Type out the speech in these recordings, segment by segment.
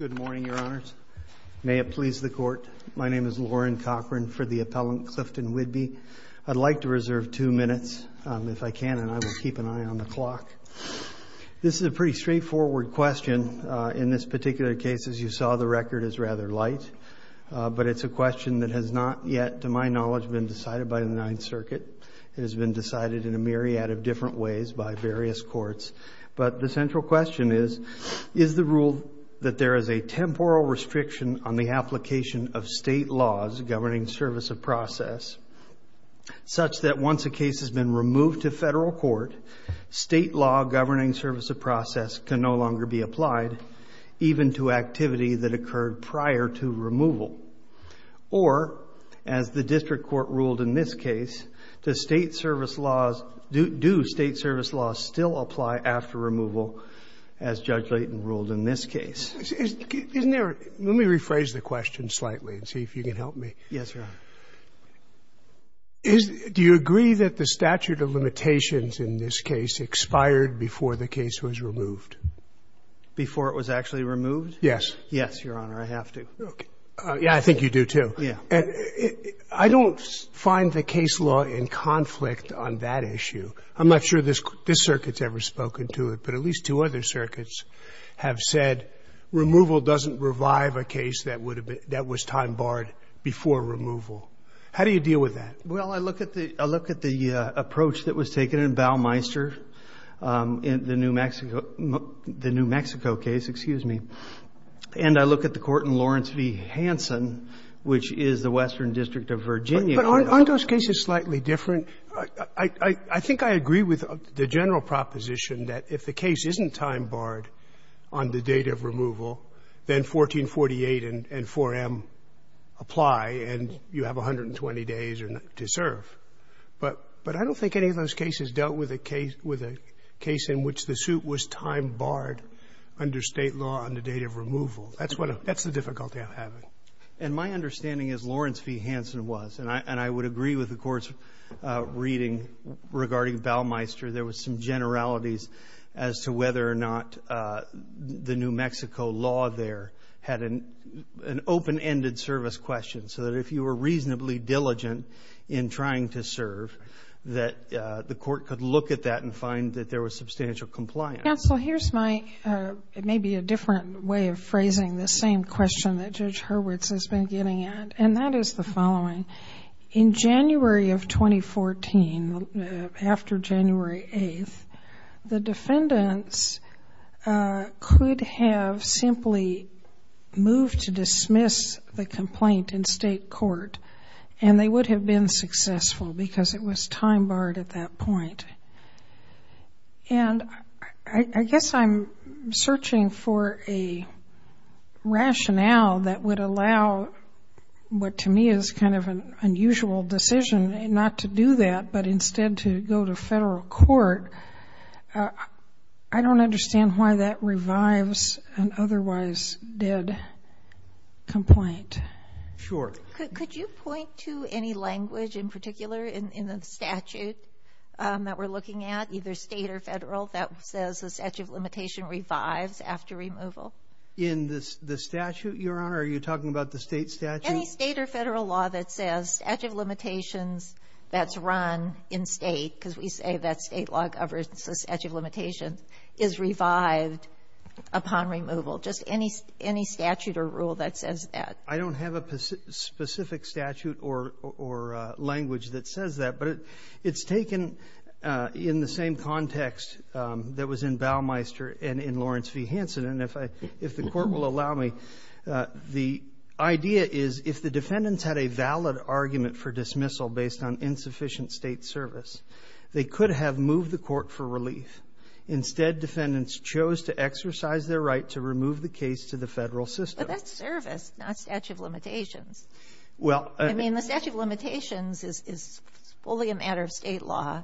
Good morning, Your Honors. May it please the Court, my name is Lauren Cochran for the appellant Clifton Whidbee. I'd like to reserve two minutes, if I can, and I will keep an eye on the clock. This is a pretty straightforward question. In this particular case, as you saw, the record is rather light, but it's a question that has not yet, to my knowledge, been decided by the Ninth Circuit. It has been decided in a myriad of different ways by various courts, but the central question is, is the rule that there is a temporal restriction on the application of state laws governing service of process, such that once a case has been removed to federal court, state law governing service of process can no longer be applied, even to activity that occurred prior to removal? Or, as the District Court ruled in this case, do state service laws still apply after removal, as Judge Layton ruled in this case? Let me rephrase the question slightly and see if you can help me. Yes, Your Honor. Do you agree that the statute of limitations in this case expired before the case was removed? Before it was actually removed? Yes. Yes, Your Honor, I have to. Yeah, I think you do, too. Yeah. I don't find the case law in conflict on that issue. I'm not sure this circuit's ever spoken to it, but at least two other circuits have said removal doesn't revive a case that was time-barred before removal. How do you deal with that? Well, I look at the approach that was taken in Baumeister, the New Mexico case, and I look at the court in Lawrence v. Hanson, which is the Western District of Virginia. Aren't those cases slightly different? I think I agree with the general proposition that if the case isn't time-barred on the date of removal, then 1448 and 4M apply and you have 120 days to serve. But I don't think any of those cases dealt with a case in which the suit was time-barred under State law on the date of removal. That's the difficulty I'm having. And my understanding is Lawrence v. Hanson was. And I would agree with the court's reading regarding Baumeister. There was some generalities as to whether or not the New Mexico law there had an open-ended service question, so that if you were reasonably diligent in trying to serve, that the court could look at that and find that there was substantial compliance. Counsel, here's my, maybe a different way of phrasing this same question that Judge Hurwitz has been getting at. And that is the following. In January of 2014, after January 8th, the defendants could have simply moved to dismiss the complaint in State court. And they would have been successful because it was time-barred at that point. And I guess I'm searching for a rationale that would allow what to me is kind of an unusual decision not to do that, but instead to go to Federal court. I don't understand why that revives an otherwise dead complaint. Sure. Could you point to any language in particular in the statute that we're looking at, either State or Federal, that says the statute of limitation revives after removal? In the statute, Your Honor, are you talking about the State statute? Any State or Federal law that says statute of limitations that's run in State, because we say that State law governs the statute of limitations, is revived upon removal. Just any statute or rule that says that. I don't have a specific statute or language that says that. But it's taken in the same context that was in Baumeister and in Lawrence v. Hansen. And if I — if the Court will allow me, the idea is if the defendants had a valid argument for dismissal based on insufficient State service, they could have moved the court for relief. Instead, defendants chose to exercise their right to remove the case to the Federal system. But that's service, not statute of limitations. Well — I mean, the statute of limitations is fully a matter of State law.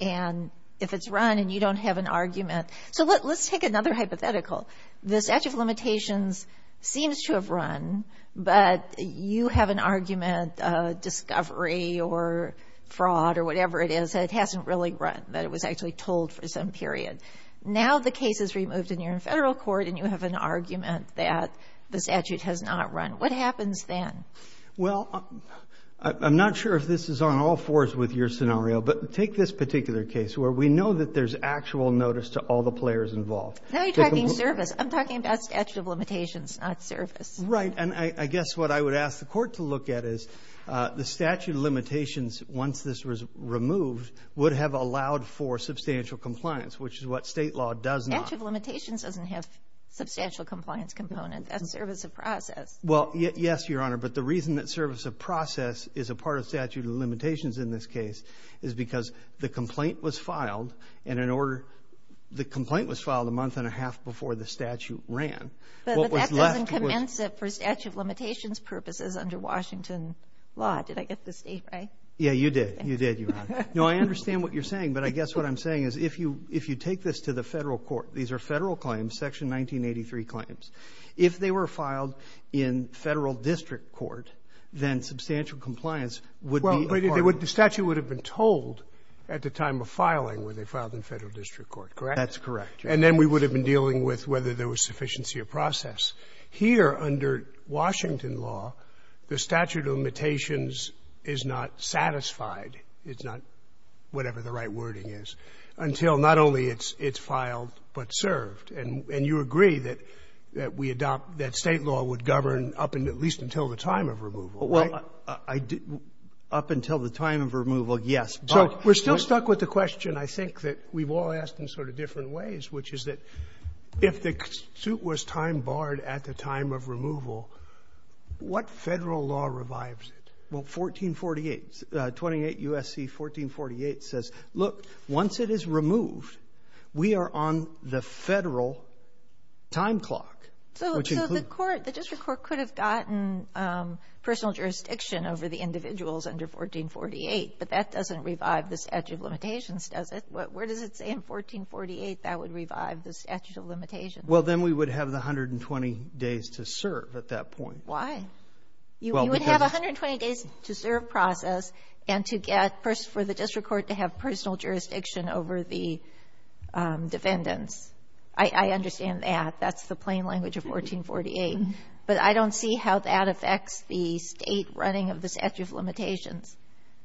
And if it's run and you don't have an argument — so let's take another hypothetical. The statute of limitations seems to have run, but you have an argument, discovery or fraud or whatever it is, that it hasn't really run, that it was actually told for some period. Now the case is removed in your Federal court and you have an argument that the statute has not run. What happens then? Well, I'm not sure if this is on all fours with your scenario, but take this particular case where we know that there's actual notice to all the players involved. Now you're talking service. I'm talking about statute of limitations, not service. Right. And I guess what I would ask the Court to look at is the statute of limitations once this was removed would have allowed for substantial compliance, which is what State law does not. Statute of limitations doesn't have substantial compliance components. That's service of process. Well, yes, Your Honor. But the reason that service of process is a part of statute of limitations in this case is because the complaint was filed and in order — the complaint was filed a month and a half before the statute ran. But that doesn't commence it for statute of limitations purposes under Washington law. Did I get the state right? Yeah, you did. You did, Your Honor. No, I understand what you're saying, but I guess what I'm saying is if you take this to the Federal court, these are Federal claims, Section 1983 claims. If they were filed in Federal district court, then substantial compliance would be a part of it. Well, but the statute would have been told at the time of filing when they filed in Federal district court, correct? That's correct, Your Honor. And then we would have been dealing with whether there was sufficiency of process. Here under Washington law, the statute of limitations is not satisfied, it's not whatever the right wording is, until not only it's filed but served. And you agree that we adopt — that State law would govern up until — at least until the time of removal, right? Well, I — up until the time of removal, yes. So we're still stuck with the question, I think, that we've all asked in sort of different ways, which is that if the suit was time barred at the time of removal, what Federal law revives it? Well, 1448 — 28 U.S.C. 1448 says, look, once it is removed, we are on the Federal time clock, which includes — So the court — the district court could have gotten personal jurisdiction over the individuals under 1448, but that doesn't revive the statute of limitations, does it? Where does it say in 1448 that would revive the statute of limitations? Well, then we would have the 120 days to serve at that point. Why? You would have 120 days to serve process and to get for the district court to have personal jurisdiction over the defendants. I understand that. That's the plain language of 1448. But I don't see how that affects the State running of the statute of limitations.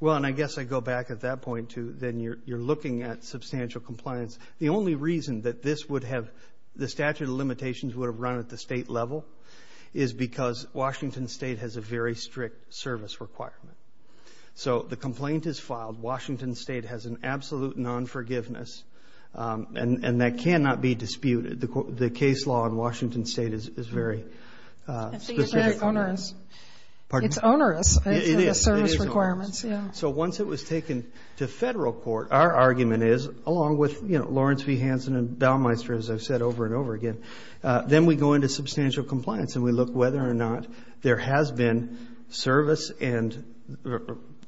Well, and I guess I go back at that point to then you're looking at substantial compliance. The only reason that this would have — the statute of limitations would have run at the State level is because Washington State has a very strict service requirement. So the complaint is filed. Washington State has an absolute non-forgiveness, and that cannot be disputed. The case law in Washington State is very specific. It's onerous. It's onerous, the service requirements. Yeah. So once it was taken to Federal court, our argument is, along with, you know, Lawrence v. Hanson and Daumeister, as I've said over and over again, then we go into substantial compliance, and we look whether or not there has been service and —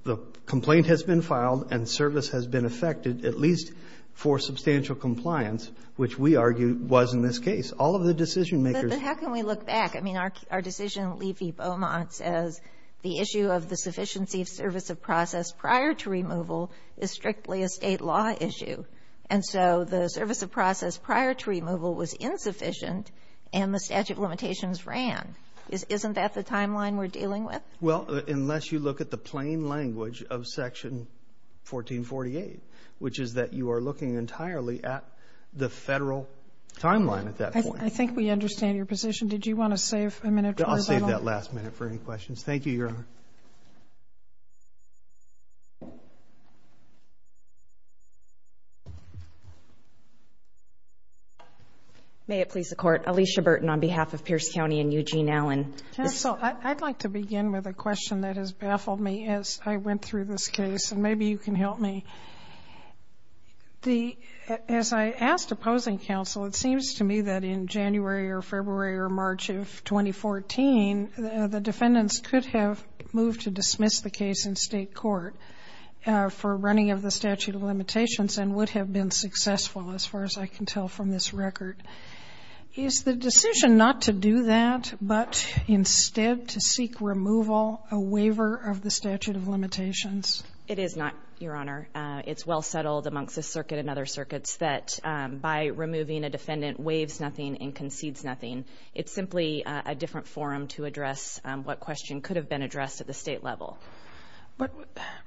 the complaint has been filed and service has been effected, at least for substantial compliance, which we argue was in this case. All of the decision-makers — But how can we look back? I mean, our decision in Levy v. Beaumont says the issue of the sufficiency of service of process prior to removal is strictly a State law issue. And so the service of process prior to removal was insufficient, and the statute of limitations ran. Isn't that the timeline we're dealing with? Well, unless you look at the plain language of Section 1448, which is that you are looking entirely at the Federal timeline at that point. I think we understand your position. Did you want to save a minute for a final — I'll save that last minute for any questions. Thank you, Your Honor. May it please the Court. Alicia Burton on behalf of Pierce County and Eugene Allen. Counsel, I'd like to begin with a question that has baffled me as I went through this case, and maybe you can help me. The — as I asked opposing counsel, it seems to me that in January or February or March of 2014, the defendants could have moved to dismiss the case in State court for running of the statute of limitations and would have been successful, as far as I can tell from this record. Is the decision not to do that, but instead to seek removal a waiver of the statute of limitations? It is not, Your Honor. It's well settled amongst this circuit and other circuits that by removing a defendant waives nothing and concedes nothing. It's simply a different forum to address what question could have been addressed at the State level. But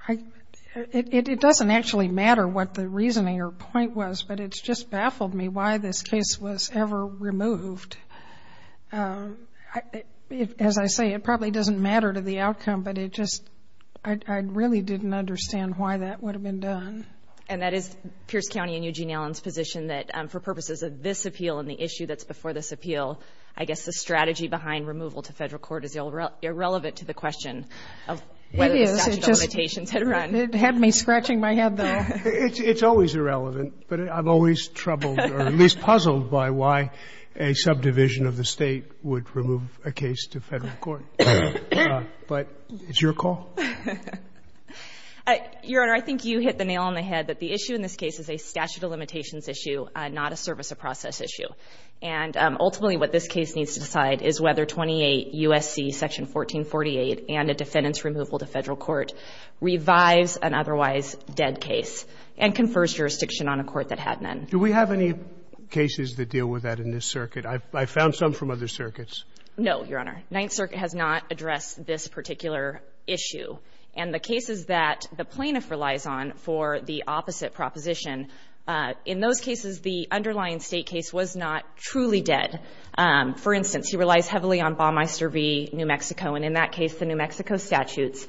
I — it doesn't actually matter what the reasoning or point was, but it's just baffled me why this case was ever removed. As I say, it probably doesn't matter to the outcome, but it just — I really didn't understand why that would have been done. And that is Pierce County and Eugene Allen's position that for purposes of this appeal and the issue that's before this appeal, I guess the strategy behind removal to Federal court is the question of whether the statute of limitations had run. It had me scratching my head, though. It's always irrelevant, but I've always troubled or at least puzzled by why a subdivision of the State would remove a case to Federal court. But it's your call. Your Honor, I think you hit the nail on the head that the issue in this case is a statute of limitations issue, not a service of process issue. And ultimately, what this case needs to decide is whether 28 U.S.C. Section 1448 and a defendant's removal to Federal court revives an otherwise dead case and confers jurisdiction on a court that had none. Do we have any cases that deal with that in this circuit? I've found some from other circuits. No, Your Honor. Ninth Circuit has not addressed this particular issue. And the cases that the plaintiff relies on for the opposite proposition, in those cases, the underlying State case was not truly dead. For instance, he relies heavily on Ballmeister v. New Mexico. And in that case, the New Mexico statutes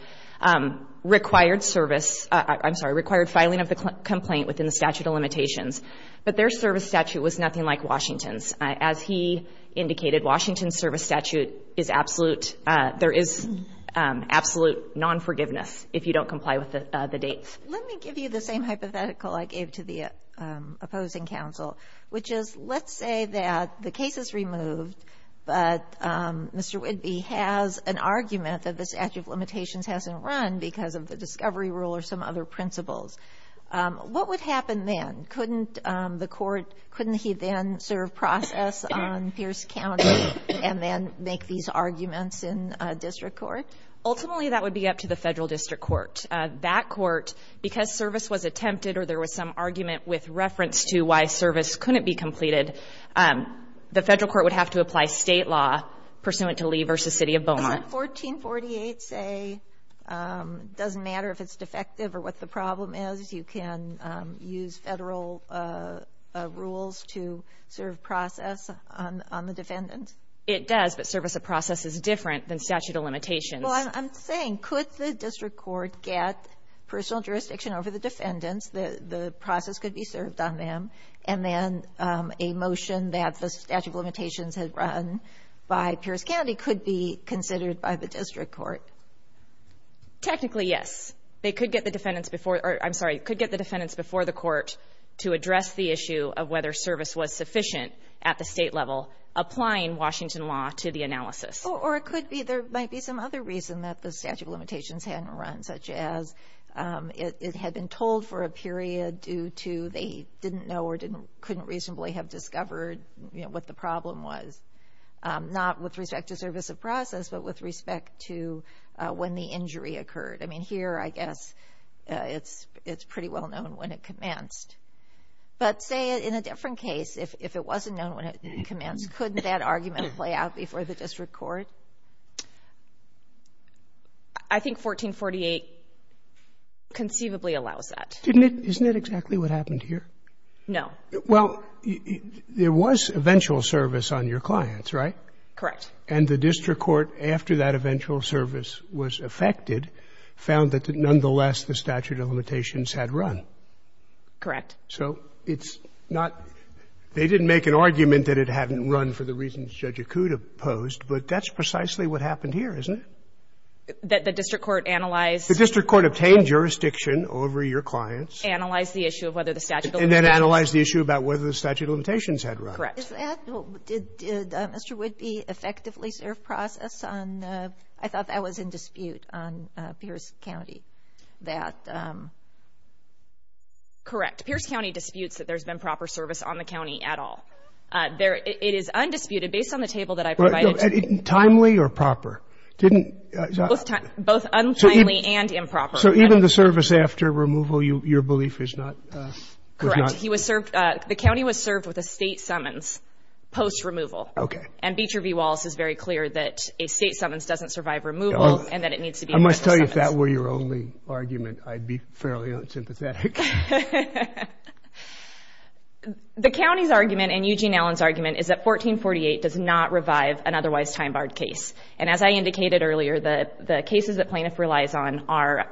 required service — I'm sorry, required filing of the complaint within the statute of limitations. But their service statute was nothing like Washington's. As he indicated, Washington's service statute is absolute — there is absolute non-forgiveness if you don't comply with the dates. Let me give you the same hypothetical I gave to the opposing counsel, which is, let's say that the case is removed, but Mr. Whidbey has an argument that the statute of limitations hasn't run because of the discovery rule or some other principles. What would happen then? Couldn't the court — couldn't he then serve process on Pierce County and then make these arguments in district court? Ultimately, that would be up to the Federal district court. That court, because service was attempted or there was some argument with reference to why service couldn't be completed, the Federal court would have to apply State law pursuant to Lee v. City of Beaumont. 1448, say, doesn't matter if it's defective or what the problem is. You can use Federal rules to serve process on the defendant. It does, but service of process is different than statute of limitations. Well, I'm saying, could the district court get personal jurisdiction over the defendants, the process could be served on them, and then a motion that the statute of limitations had run by Pierce County could be considered by the district court? Technically, yes. They could get the defendants before — or, I'm sorry, could get the defendants before the court to address the issue of whether service was sufficient at the State level applying Washington law to the analysis. Or it could be there might be some other reason that the statute of limitations hadn't run, such as it had been told for a period due to they didn't know or couldn't reasonably have discovered what the problem was, not with respect to service of process, but with respect to when the injury occurred. I mean, here, I guess it's pretty well known when it commenced. But say in a different case, if it wasn't known when it commenced, couldn't that argument play out before the district court? I think 1448 conceivably allows that. Isn't it exactly what happened here? No. Well, there was eventual service on your clients, right? Correct. And the district court, after that eventual service was effected, found that nonetheless the statute of limitations had run. Correct. So it's not — they didn't make an argument that it hadn't run for the reasons Judge Acuda posed, but that's precisely what happened here, isn't it? That the district court analyzed — The district court obtained jurisdiction over your clients. Analyzed the issue of whether the statute of limitations — And then analyzed the issue about whether the statute of limitations had run. Correct. Is that — did Mr. Whitby effectively serve process on — I thought that was in dispute on Pierce County, that — Correct. Pierce County disputes that there's been proper service on the county at all. It is undisputed, based on the table that I provided to you. Timely or proper? Didn't — Both untimely and improper. So even the service after removal, your belief is not — Correct. He was served — the county was served with a state summons post-removal. Okay. And Beecher v. Wallace is very clear that a state summons doesn't survive removal, and that it needs to be — I must tell you, if that were your only argument, I'd be fairly unsympathetic. The county's argument, and Eugene Allen's argument, is that 1448 does not revive an otherwise time-barred case. And as I indicated earlier, the cases that Plaintiff relies on are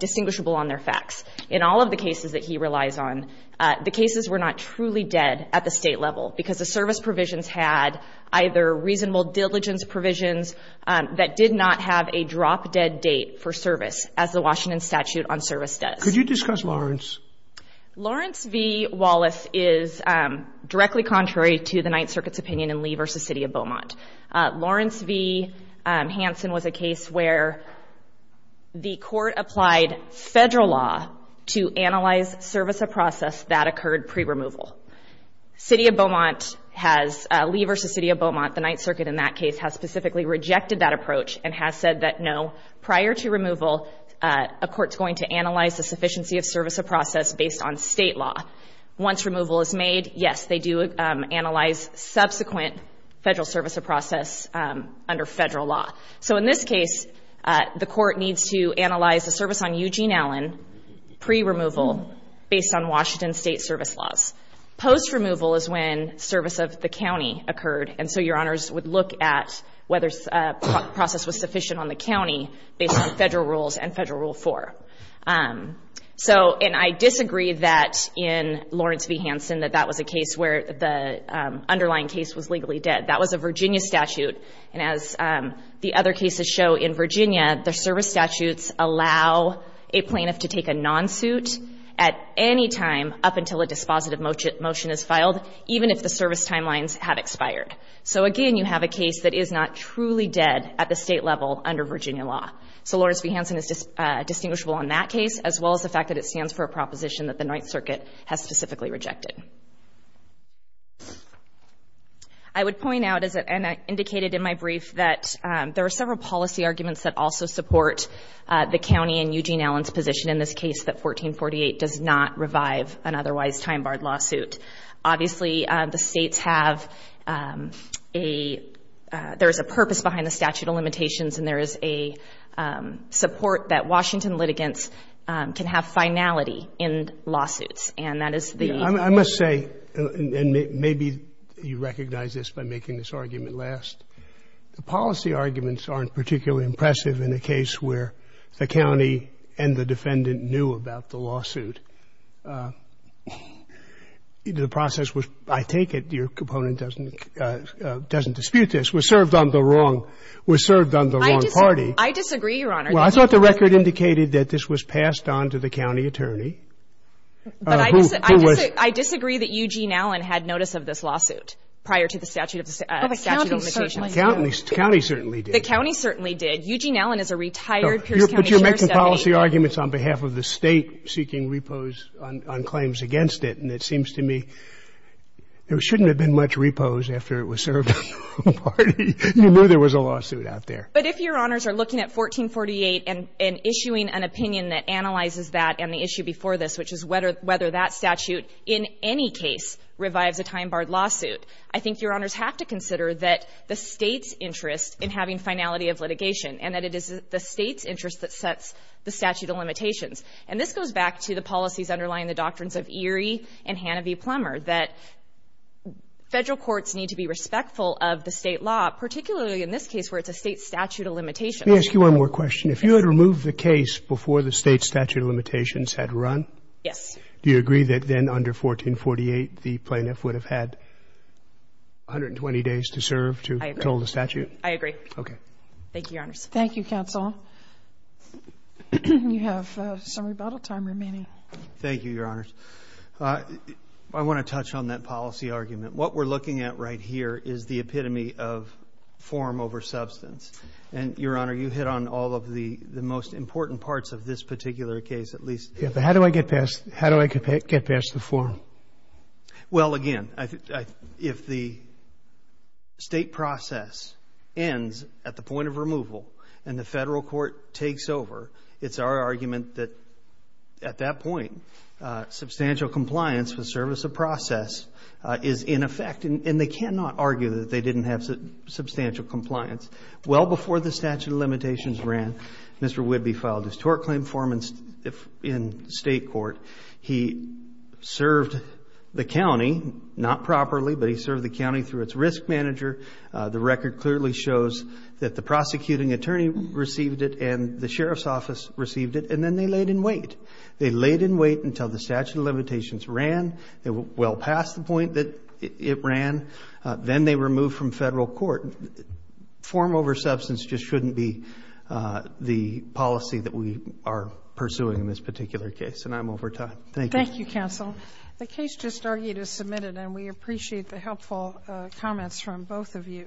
distinguishable on their facts. In all of the cases that he relies on, the cases were not truly dead at the state level because the service provisions had either reasonable diligence provisions that did not have a drop-dead date for service, as the Washington statute on service does. Could you discuss Lawrence? Lawrence v. Wallace is directly contrary to the Ninth Circuit's opinion in Lee v. City of Beaumont. Lawrence v. Hansen was a case where the court applied federal law to analyze service of process that occurred pre-removal. City of Beaumont has — Lee v. City of Beaumont, the Ninth Circuit in that case, has specifically rejected that approach and has said that, no, prior to removal, a court's going to analyze the sufficiency of service of process based on state law. Once removal is made, yes, they do analyze subsequent federal service of process under federal law. So in this case, the court needs to analyze the service on Eugene Allen pre-removal based on Washington state service laws. Post-removal is when service of the county occurred. So, and I disagree that in Lawrence v. Hansen that that was a case where the underlying case was legally dead. That was a Virginia statute, and as the other cases show in Virginia, the service statutes allow a plaintiff to take a non-suit at any time up until a dispositive motion is filed, even if the service timelines have expired. So, again, you have a case that is not truly dead at the state level under Virginia law. So Lawrence v. Hansen is distinguishable on that case, as well as the fact that it stands for a proposition that the Ninth Circuit has specifically rejected. I would point out, and I indicated in my brief, that there are several policy arguments that also support the county and Eugene Allen's position in this case that 1448 does not revive an otherwise time-barred lawsuit. Obviously, the states have a, there is a purpose behind the statute of limitations and there is a support that Washington litigants can have finality in lawsuits. And that is the ---- Scalia, I must say, and maybe you recognize this by making this argument last. The policy arguments aren't particularly impressive in a case where the county and the defendant knew about the lawsuit. The process was, I take it, your component doesn't dispute this, was served on the wrong party. I disagree, Your Honor. Well, I thought the record indicated that this was passed on to the county attorney. But I disagree that Eugene Allen had notice of this lawsuit prior to the statute of limitations. The county certainly did. The county certainly did. Eugene Allen is a retired Pierce County sheriff's deputy. But you're making policy arguments on behalf of the state seeking repose on claims against it. And it seems to me there shouldn't have been much repose after it was served on the wrong party. You knew there was a lawsuit out there. But if Your Honors are looking at 1448 and issuing an opinion that analyzes that and the issue before this, which is whether that statute in any case revives a time-barred lawsuit, I think Your Honors have to consider that the State's interest in having finality of litigation, and that it is the State's interest that sets the statute of limitations. And this goes back to the policies underlying the doctrines of Erie and Hanna v. Plummer, that Federal courts need to be respectful of the State law, particularly in this statute of limitations. Let me ask you one more question. If you had removed the case before the State's statute of limitations had run, do you agree that then under 1448, the plaintiff would have had 120 days to serve to control the statute? I agree. Okay. Thank you, Your Honors. Thank you, Counsel. You have some rebuttal time remaining. Thank you, Your Honors. I want to touch on that policy argument. What we're looking at right here is the epitome of form over substance. And, Your Honor, you hit on all of the most important parts of this particular case, at least. Yes, but how do I get past the form? Well, again, if the State process ends at the point of removal and the Federal court takes over, it's our argument that at that point, substantial compliance with service of process is in effect. And they cannot argue that they didn't have substantial compliance. Well before the statute of limitations ran, Mr. Whidbey filed his tort claim form in State court. He served the county, not properly, but he served the county through its risk manager. The record clearly shows that the prosecuting attorney received it and the Sheriff's office received it, and then they laid in wait. They laid in wait until the statute of limitations ran. They were well past the point that it ran. Then they removed from Federal court. Form over substance just shouldn't be the policy that we are pursuing in this particular case. And I'm over time. Thank you. Thank you, Counsel. The case just argued is submitted and we appreciate the helpful comments from both of you.